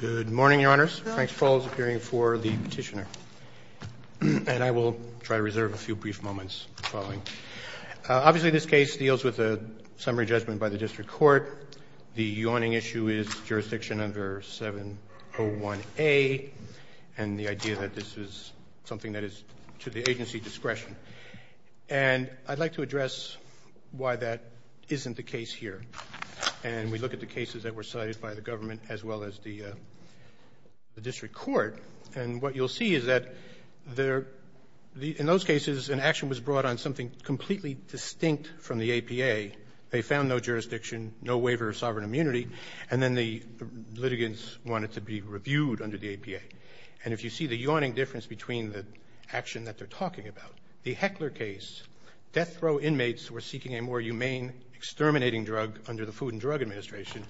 Good morning, Your Honors. Frank Spall is appearing for the petitioner. And I will try to reserve a few brief moments for following. Obviously, this case deals with a summary judgment by the district court. The yawning issue is jurisdiction under 701A and the idea that this is something that is to the agency discretion. And I'd like to address why that isn't the case here. And we look at the cases that were cited by the government as well as the district court. And what you'll see is that in those cases, an action was brought on something completely distinct from the APA. They found no jurisdiction, no waiver of sovereign immunity, and then the litigants wanted to be reviewed under the APA. And if you see the yawning difference between the action that they're talking about, the Heckler case, death row inmates were seeking a more humane exterminating drug under the Food and Drug Administration.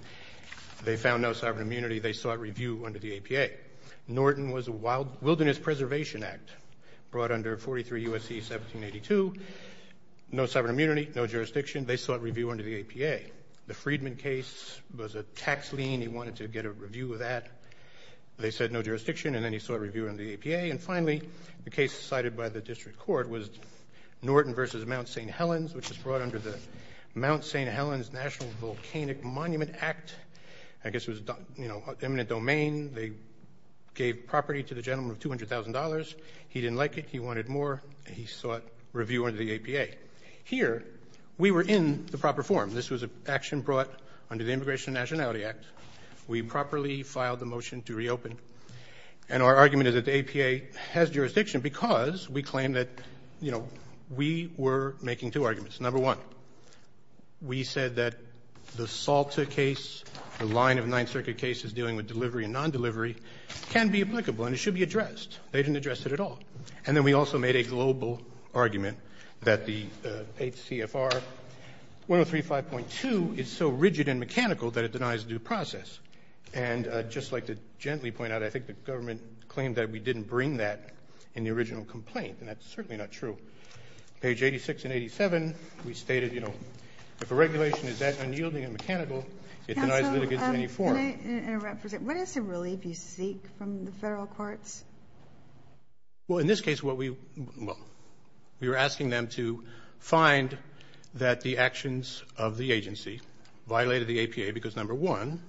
They found no sovereign immunity. They sought review under the APA. Norton was a Wild Wilderness Preservation Act brought under 43 U.S.C. 1782. No sovereign immunity, no jurisdiction. They sought review under the APA. The Friedman case was a tax lien. He wanted to get a review of that. They said no jurisdiction, and then he sought review under the APA. And finally, the case cited by the district court was Norton v. Mount St. Helens, which was brought under the Mount St. Helens National Volcanic Monument Act. I guess it was, you know, eminent domain. They gave property to the gentleman of $200,000. He didn't like it. He wanted more. He sought review under the APA. Here, we were in the proper form. This was an action brought under the Immigration and Nationality Act. We properly filed the motion to reopen. And our argument is that the APA has jurisdiction because we claim that, you know, we were making two arguments. Number one, we said that the SALTA case, the line of Ninth Circuit cases dealing with delivery and non-delivery, can be applicable and should be addressed. They didn't address it at all. And then we also made a global argument that the HCFR 1035.2 is so rigid and mechanical that it denies due process. And I'd just like to gently point out, I think the government claimed that we didn't bring that in the original complaint, and that's certainly not true. Page 86 and 87, we stated, you know, if a regulation is that unyielding and mechanical, it denies litigants in any form. Counsel, can I interrupt for a second? What is the relief you seek from the Federal courts? Well, in this case, what we, well, we were asking them to find that the actions of the agency violated the APA because, number one,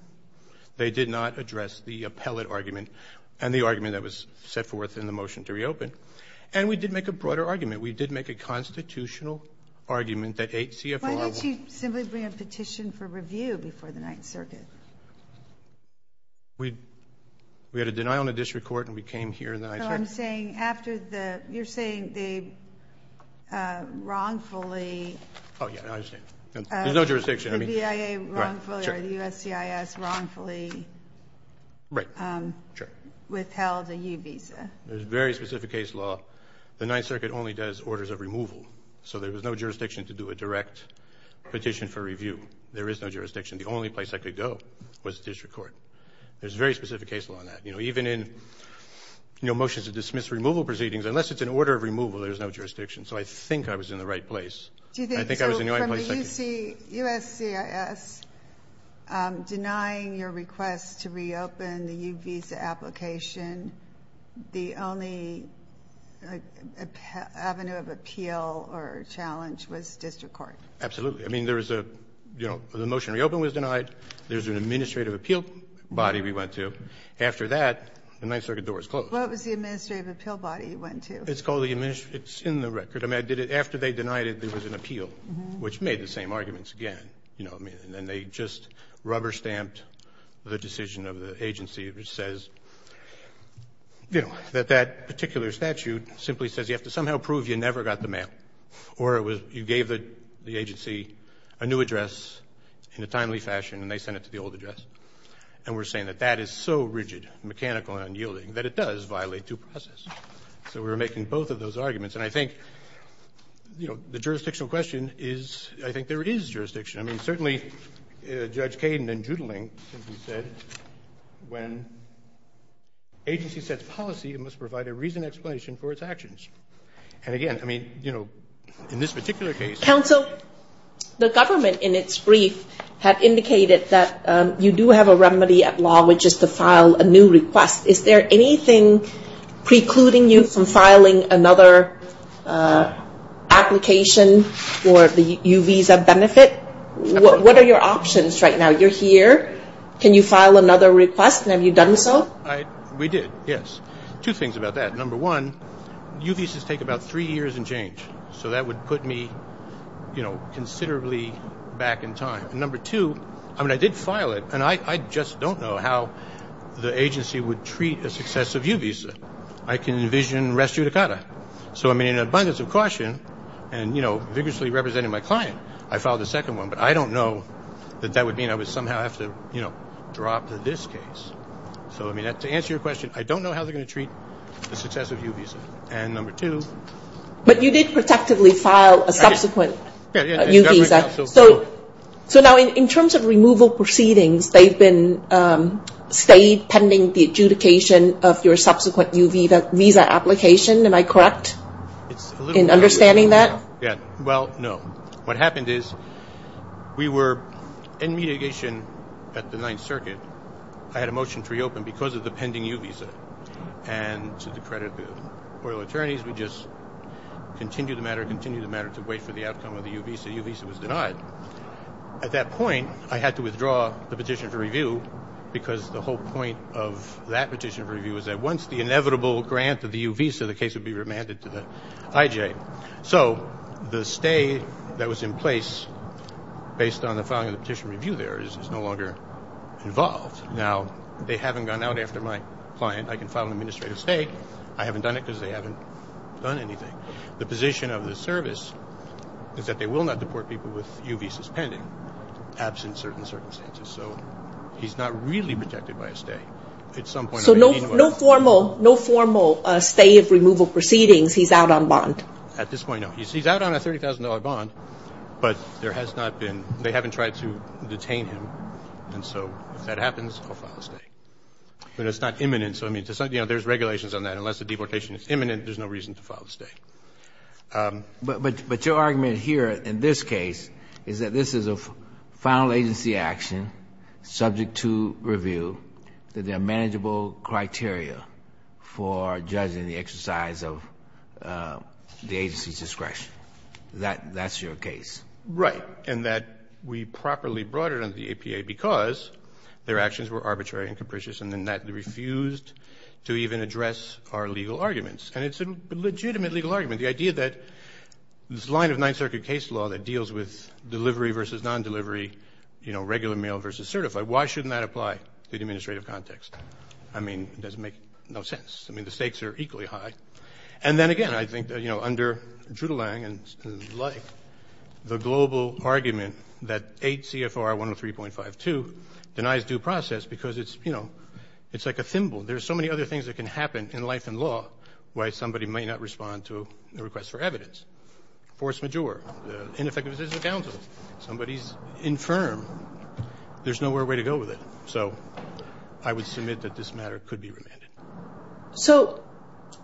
they did not address the appellate argument and the argument that was set forth in the motion to reopen. And we did make a broader argument. We did make a constitutional argument that HCFR- Why don't you simply bring a petition for review before the Ninth Circuit? We had a deny on the district court, and we came here in the Ninth Circuit. No, I'm saying after the, you're saying they wrongfully- Oh, yeah, I understand. There's no jurisdiction. I mean- The BIA wrongfully, or the USCIS wrongfully- Right. Sure. Withheld a U visa. There's a very specific case law. The Ninth Circuit only does orders of removal, so there was no jurisdiction to do a direct petition for review. There is no jurisdiction. The only place I could go was the district court. There's a very specific case law on that. You know, even in, you know, motions to dismiss removal proceedings, unless it's an order of removal, there's no jurisdiction. So I think I was in the right place. Do you think- I think I was in the right place. So from the USCIS denying your request to reopen the U visa application, the only avenue of appeal or challenge was district court? Absolutely. I mean, there was a, you know, the motion to reopen was denied. There's an administrative appeal body we went to. After that, the Ninth Circuit door was closed. What was the administrative appeal body you went to? It's in the record. I mean, after they denied it, there was an appeal, which made the same arguments again. You know what I mean? And then they just rubber stamped the decision of the agency, which says, you know, that that particular statute simply says you have to somehow prove you address in a timely fashion, and they sent it to the old address. And we're saying that that is so rigid, mechanical, and unyielding that it does violate due process. So we were making both of those arguments. And I think, you know, the jurisdictional question is, I think there is jurisdiction. I mean, certainly Judge Kaden and Judling said when agency sets policy, it must provide a reasoned explanation for its actions. And again, I mean, you know, in this particular case. Counsel, the government in its brief had indicated that you do have a remedy at law, which is to file a new request. Is there anything precluding you from filing another application for the U visa benefit? What are your options right now? You're here. Can you file another request? And have you done so? We did, yes. Two things about that. Number one, U visas take about three years and change. So that would put me, you know, considerably back in time. Number two, I mean, I did file it, and I just don't know how the agency would treat a successive U visa. I can envision res judicata. So I mean, in abundance of caution, and, you know, vigorously representing my client, I filed the second one. But I don't know that that would mean I would somehow have to, you know, drop this case. So I mean, to answer your question, I don't know how they're going to treat a successive U visa. And number two. But you did protectively file a subsequent U visa. So now in terms of removal proceedings, they've been stayed pending the adjudication of your subsequent U visa application. Am I correct in understanding that? Yeah. Well, no. What happened is we were in mitigation at the Ninth Circuit. I had a motion to reopen because of the pending U visa. And to the credit of the oral attorneys, we just continued the matter, continued the matter to wait for the outcome of the U visa. U visa was denied. At that point, I had to withdraw the petition for review because the whole point of that petition for review was that once the inevitable grant of the U visa, the case would be remanded to the IJ. So the stay that was in place based on the filing of the petition review there is no longer involved. Now, they haven't gone out after my client. I can file an administrative stay. I haven't done it because they haven't done anything. The position of the service is that they will not deport people with U visas pending absent certain circumstances. So he's not really protected by a stay at some point. So no formal stay of removal proceedings. He's out on bond? At this point, no. He's out on a $30,000 bond, but there has not been, they haven't tried to But it's not imminent. So I mean, there's regulations on that. Unless the deportation is imminent, there's no reason to file a stay. But your argument here in this case is that this is a final agency action subject to review, that there are manageable criteria for judging the exercise of the agency's discretion. That's your case? Right. And that we properly brought it under the And then that refused to even address our legal arguments. And it's a legitimate legal argument. The idea that this line of Ninth Circuit case law that deals with delivery versus non-delivery, regular mail versus certified, why shouldn't that apply to the administrative context? I mean, it doesn't make no sense. I mean, the stakes are equally high. And then again, I think that under Drudelang and the like, the global argument that 8 CFR 103.52 denies due process because it's, you know, it's like a thimble. There's so many other things that can happen in life and law, why somebody might not respond to the request for evidence. Force majeure, ineffective decision of counsel. Somebody's infirm. There's nowhere a way to go with it. So I would submit that this matter could be remanded. So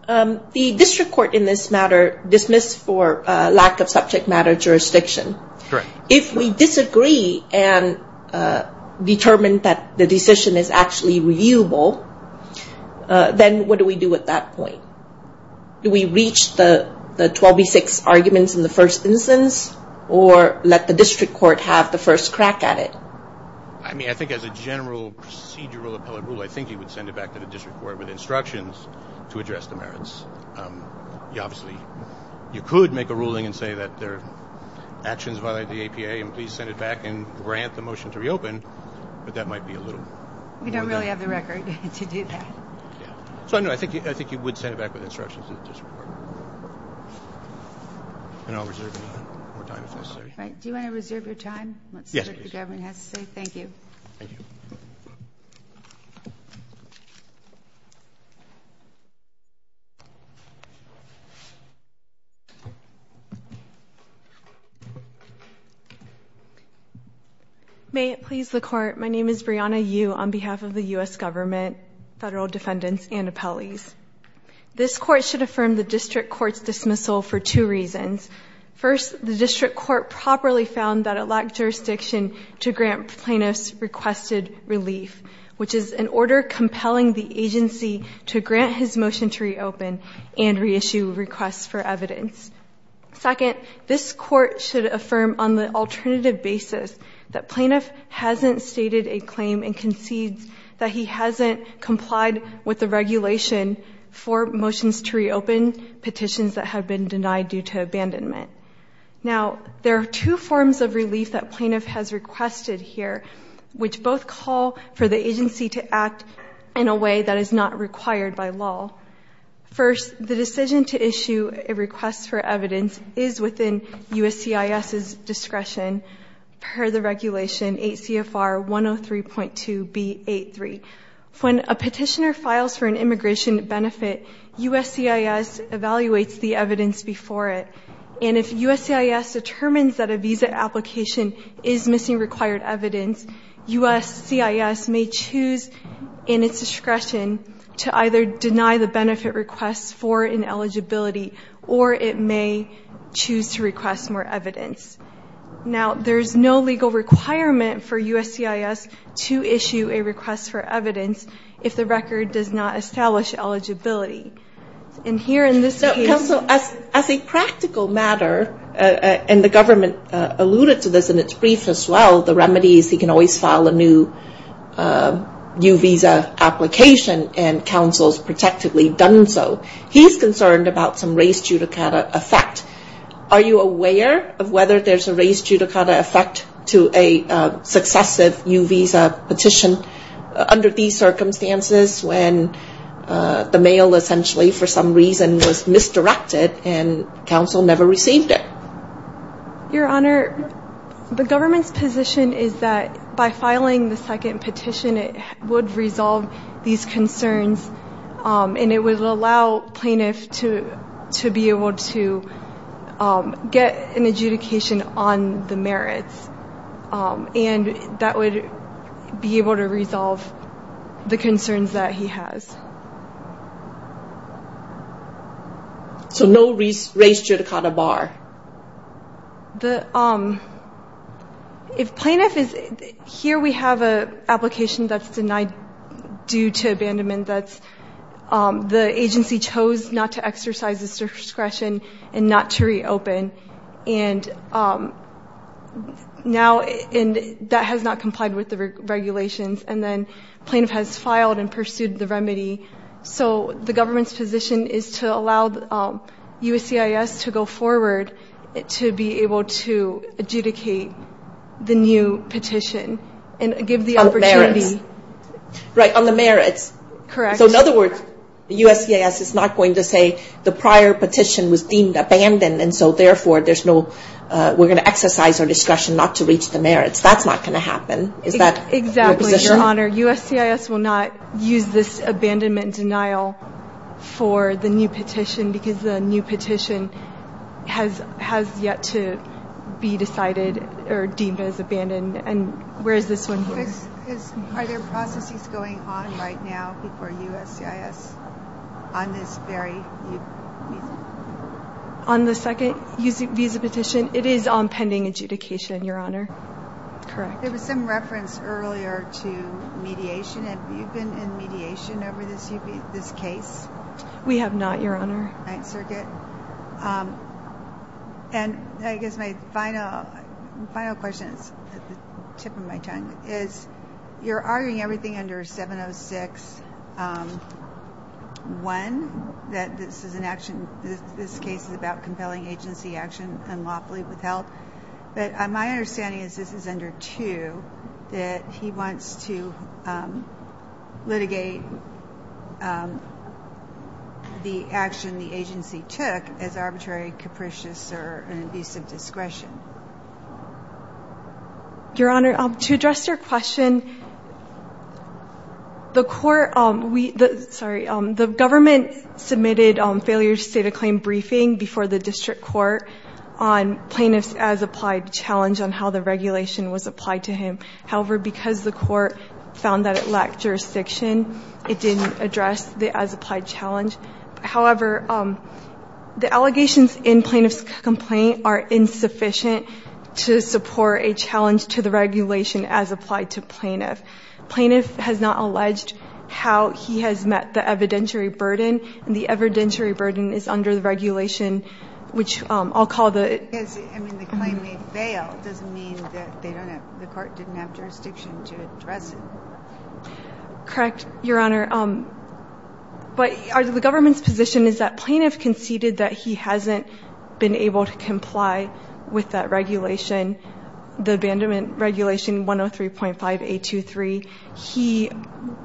the district court in this matter dismissed for lack of subject matter jurisdiction. Correct. If we disagree and determine that the decision is actually reviewable, then what do we do at that point? Do we reach the 12B6 arguments in the first instance or let the district court have the first crack at it? I mean, I think as a general procedural appellate rule, I think you would send it back to the district court with instructions to address the merits. You obviously, you could make a ruling and say that their actions violate the APA and please send it back and grant the motion to reopen, but that might be a little. We don't really have the record to do that. So I know, I think you would send it back with instructions to the district court. And I'll reserve more time if necessary. Right. Do you want to reserve your time? Let's see if the government has to say thank you. May it please the court. My name is Brianna Yu on behalf of the U.S. government, federal defendants and appellees. This court should affirm the district court's dismissal for two reasons. First, the district court properly found that it lacked jurisdiction to grant plaintiff's requested relief, which is an order compelling the agency to grant his motion to reopen and reissue requests for evidence. Second, this court should affirm on the alternative basis that plaintiff hasn't stated a claim and concedes that he hasn't complied with the due to abandonment. Now, there are two forms of relief that plaintiff has requested here, which both call for the agency to act in a way that is not required by law. First, the decision to issue a request for evidence is within USCIS's discretion per the regulation 8 CFR 103.2B83. When a petitioner files for an immigration benefit, USCIS evaluates the evidence before it. And if USCIS determines that a visa application is missing required evidence, USCIS may choose in its discretion to either deny the benefit request for an eligibility or it may choose to request more evidence. Now, there's no legal requirement for USCIS to issue a request for evidence if the record does not establish eligibility. And here in this case... Counsel, as a practical matter, and the government alluded to this in its brief as well, the remedies, he can always file a new visa application and counsel's protectively done so. He's concerned about some race judicata effect. Are you aware of whether there's a race judicata effect to a successive new visa petition under these circumstances when the mail, essentially, for some reason was misdirected and counsel never received it? Your Honor, the government's position is that by filing the second petition, it would resolve these concerns and it would allow plaintiff to be able to get an adjudication on the merits. And that would be able to resolve the concerns that he has. So no race judicata bar? The... If plaintiff is... Here we have an application that's denied due to abandonment that the agency chose not to exercise its discretion and not to reopen. And now that has not complied with the regulations. And then plaintiff has filed and pursued the to be able to adjudicate the new petition and give the opportunity. Right, on the merits. So in other words, USCIS is not going to say the prior petition was deemed abandoned. And so therefore, there's no... We're going to exercise our discretion not to reach the merits. That's not going to happen. Is that your position? Exactly, Your Honor. USCIS will not use this abandonment denial for the new petition because the new petition has yet to be decided or deemed as abandoned. And where is this one here? Are there processes going on right now before USCIS on this very... On the second visa petition? It is on pending adjudication, Your Honor. Correct. There was some reference earlier to mediation. Have you been in mediation over this case? We have not, Your Honor. And I guess my final question is, you're arguing everything under 706-1, that this is an action... This case is about compelling agency action unlawfully withheld. But my understanding is this is under two, that he wants to litigate the action the agency took as arbitrary, capricious, or an abuse of discretion. Your Honor, to address your question, the court... Sorry, the government submitted a failure to state a claim briefing before the district court on plaintiff's as-applied challenge on how the regulation was applied to him. However, because the court found that it lacked jurisdiction, it didn't address the as-applied challenge. However, the allegations in plaintiff's complaint are insufficient to support a challenge to the plaintiff. Plaintiff has not alleged how he has met the evidentiary burden, and the evidentiary burden is under the regulation, which I'll call the... I mean, the claim may fail. It doesn't mean that the court didn't have jurisdiction to address it. Correct, Your Honor. But the government's position is that plaintiff conceded that he hasn't been able to comply with that regulation, the abandonment regulation 103.5823. He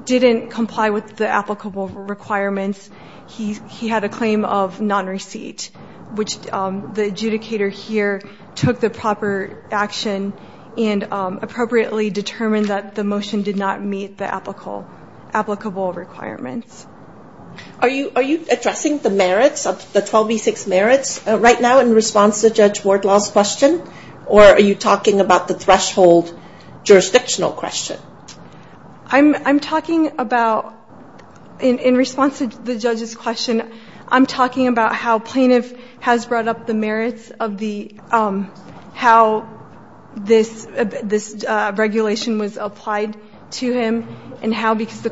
didn't comply with the applicable requirements. He had a claim of non-receipt, which the adjudicator here took the proper action and appropriately determined that the motion did not meet the applicable requirements. Are you addressing the merits of the 12B6 merits right now in response to Judge Wardlaw's question, or are you talking about the threshold jurisdictional question? I'm talking about, in response to the judge's question, I'm talking about how plaintiff has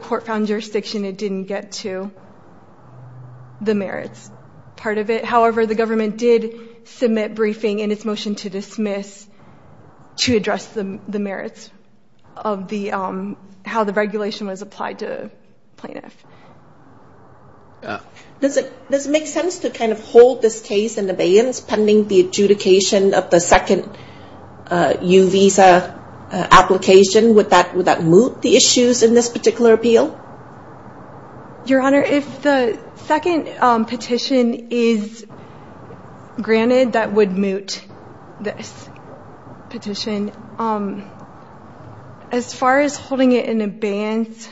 court found jurisdiction. It didn't get to the merits part of it. However, the government did submit briefing in its motion to dismiss to address the merits of how the regulation was applied to plaintiff. Does it make sense to kind of hold this case in abeyance pending the adjudication of the second U visa application? Would that moot the issues in this particular appeal? Your Honor, if the second petition is granted, that would moot this petition. As far as holding it in abeyance...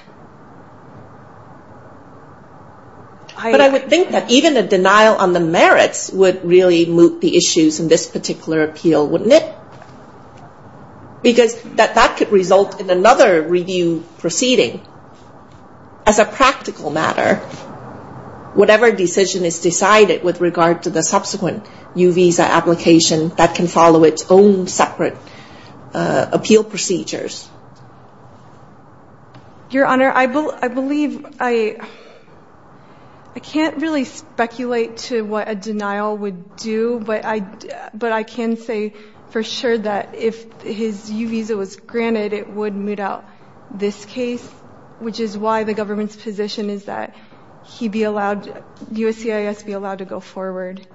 But I would think that even a denial on the merits would really moot the issues in this particular appeal, wouldn't it? Because that could result in another review proceeding. As a practical matter, whatever decision is decided with regard to the subsequent U visa application, that can follow its own separate appeal procedures. Your Honor, I believe... I can't really speculate to what a denial would do, but I can say for sure that if his U visa was granted, it would moot out this case, which is why the government's position is that USCIS be allowed to go forward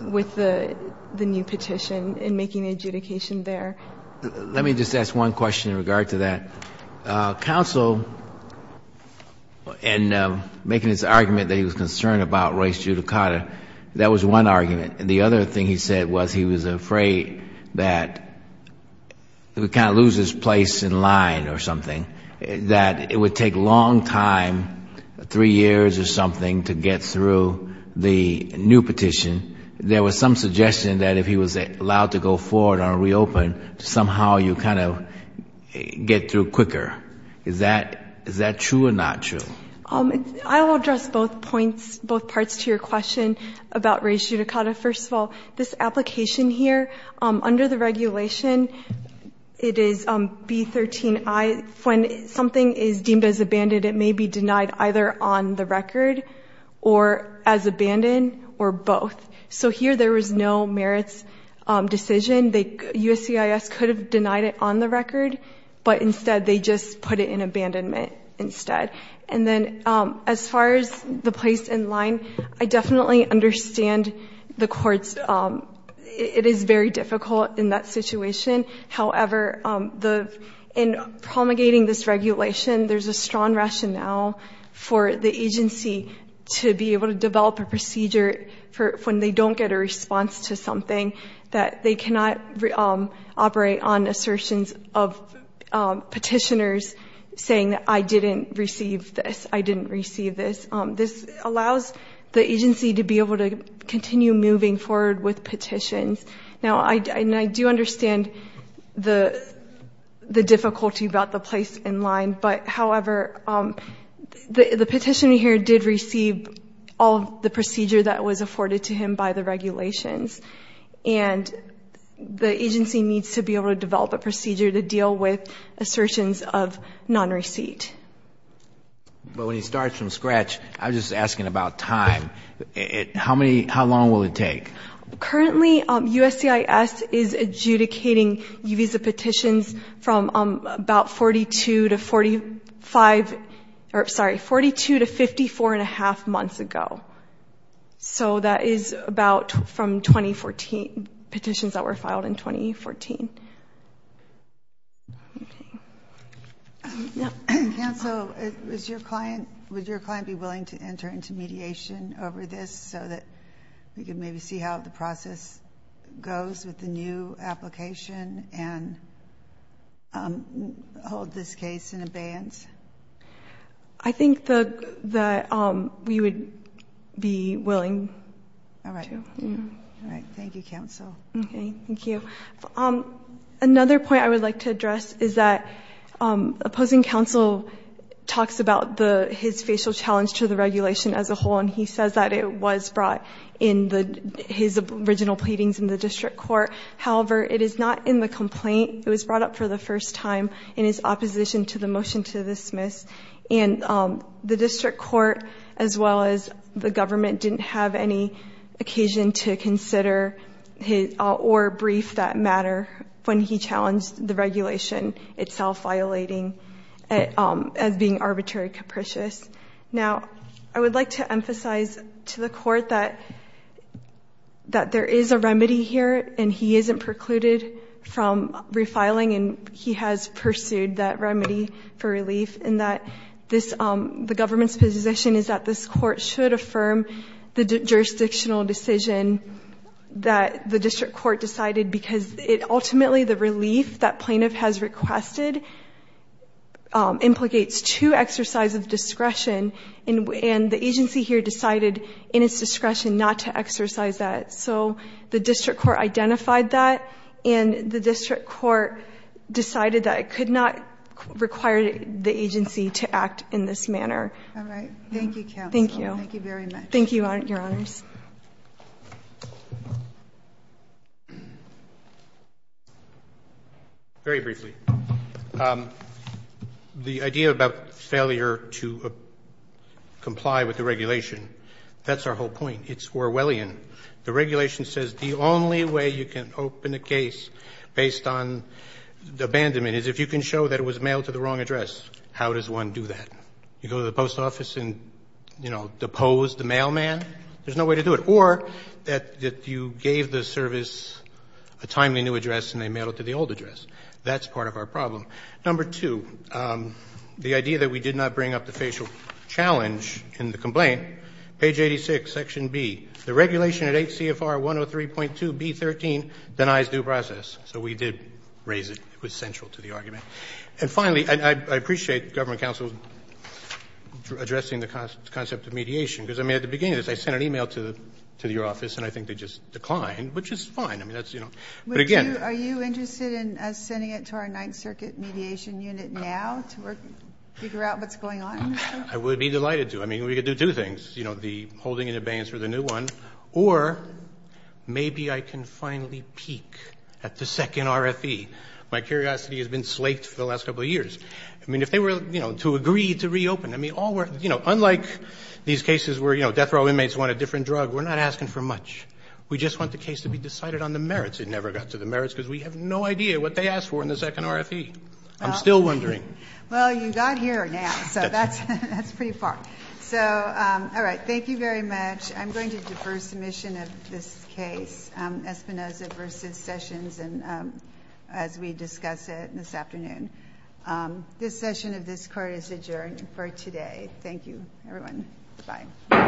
with the new petition in making the adjudication there. Let me just ask one question in regard to that. Counsel, in making his argument that he was concerned about Royce Giudicata, that was one argument. The other thing he said was he was afraid that he would kind of lose his place in line or something, that it would take a long time, three years or something, to get through the new petition. There was some suggestion that if he was allowed to go forward or reopen, somehow you kind of get through quicker. Is that true or not true? I will address both points, both parts to your question about Royce Giudicata. First of all, this application here, under the regulation, it is B13I. When something is deemed as abandoned, it may be denied either on the record or as abandoned or both. So here there was no merits decision. USCIS could have denied it on the record, but instead they just put it in abandonment instead. And then as far as the place in line, I definitely understand the courts, it is very difficult in that situation. However, in promulgating this regulation, there's a strong rationale for the agency to be able to develop a procedure when they don't get a response to something, that they cannot operate on assertions of petitioners saying that I didn't receive this, I didn't receive this. This allows the agency to be able to continue moving forward with petitions. Now, I do understand the difficulty about the place in line, but however, the petitioner here did receive all the procedure that was afforded to him by the regulations. And the agency needs to be able to develop a procedure to deal with assertions of non-receipt. But when he starts from scratch, I'm just asking about time. How long will it take? Currently, USCIS is adjudicating UVISA petitions from about 42 to 45, or sorry, 42 to 54 and a half months ago. So that is about from 2014, petitions that were filed in 2014. Okay. Cancel. Would your client be willing to enter into mediation over this so that we can maybe see how the process goes with the new application and hold this case in abeyance? I think that we would be willing to. All right. Thank you, counsel. Okay. Thank you. Another point I would like to address is that opposing counsel talks about his facial challenge to the regulation as a whole, and he says that it was brought in his original pleadings in the district court. However, it is not in the complaint. It was brought up for the first time in his opposition to the motion to dismiss. And the district court, as well as the government, didn't have any occasion to consider or brief that matter when he challenged the regulation itself, violating it as being arbitrary capricious. Now, I would like to emphasize to the court that there is a remedy here, and he isn't precluded from refiling, and he has pursued that remedy for relief, and that the government's position is that this court should affirm the jurisdictional decision that the district court decided, because it ultimately, the relief that plaintiff has requested implicates two exercises of discretion, and the agency here decided in its discretion not to exercise that. So the district court identified that, and the district court decided that it could not require the agency to act in this manner. All right. Thank you, counsel. Thank you. Thank you very much. Thank you, Your Honors. Very briefly. The idea about failure to comply with the regulation, that's our whole point. It's Orwellian. The regulation says the only way you can open a case based on abandonment is if you can show that it was mailed to the wrong address. How does one do that? You go to the post office and, you know, depose the mailman? There's no way to do it. Or that you gave the service a timely new address and they mailed it to the old address. That's part of our problem. Number two, the idea that we did not bring up the facial challenge in the complaint, page 86, section B, the regulation at 8 CFR 103.2B13 denies due process. So we did raise it. It was central to the argument. And finally, and I appreciate government counsel addressing the concept of mediation because, I mean, at the beginning of this, I sent an email to your office and I think they just declined, which is fine. I mean, that's, you know, but again. Are you interested in sending it to our Ninth Circuit mediation unit now to figure out what's going on? I would be delighted to. I mean, we could do two things. You know, the holding and abeyance for the new one or maybe I can finally peek at the second RFE. My curiosity has been slaked for the last couple of years. I mean, if they were, you know, to agree to reopen, I mean, all were, you know, unlike these cases where, you know, death row inmates want a different drug, we're not asking for much. We just want the case to be decided on the merits. It never got to the merits because we have no idea what they asked for in the second RFE. I'm still wondering. Well, you got here now. So that's pretty far. So, all right. Thank you very much. I'm going to defer submission of this case, Espinoza v. Sessions. And as we discuss it this afternoon, this session of this court is adjourned for today. Thank you, everyone. Bye.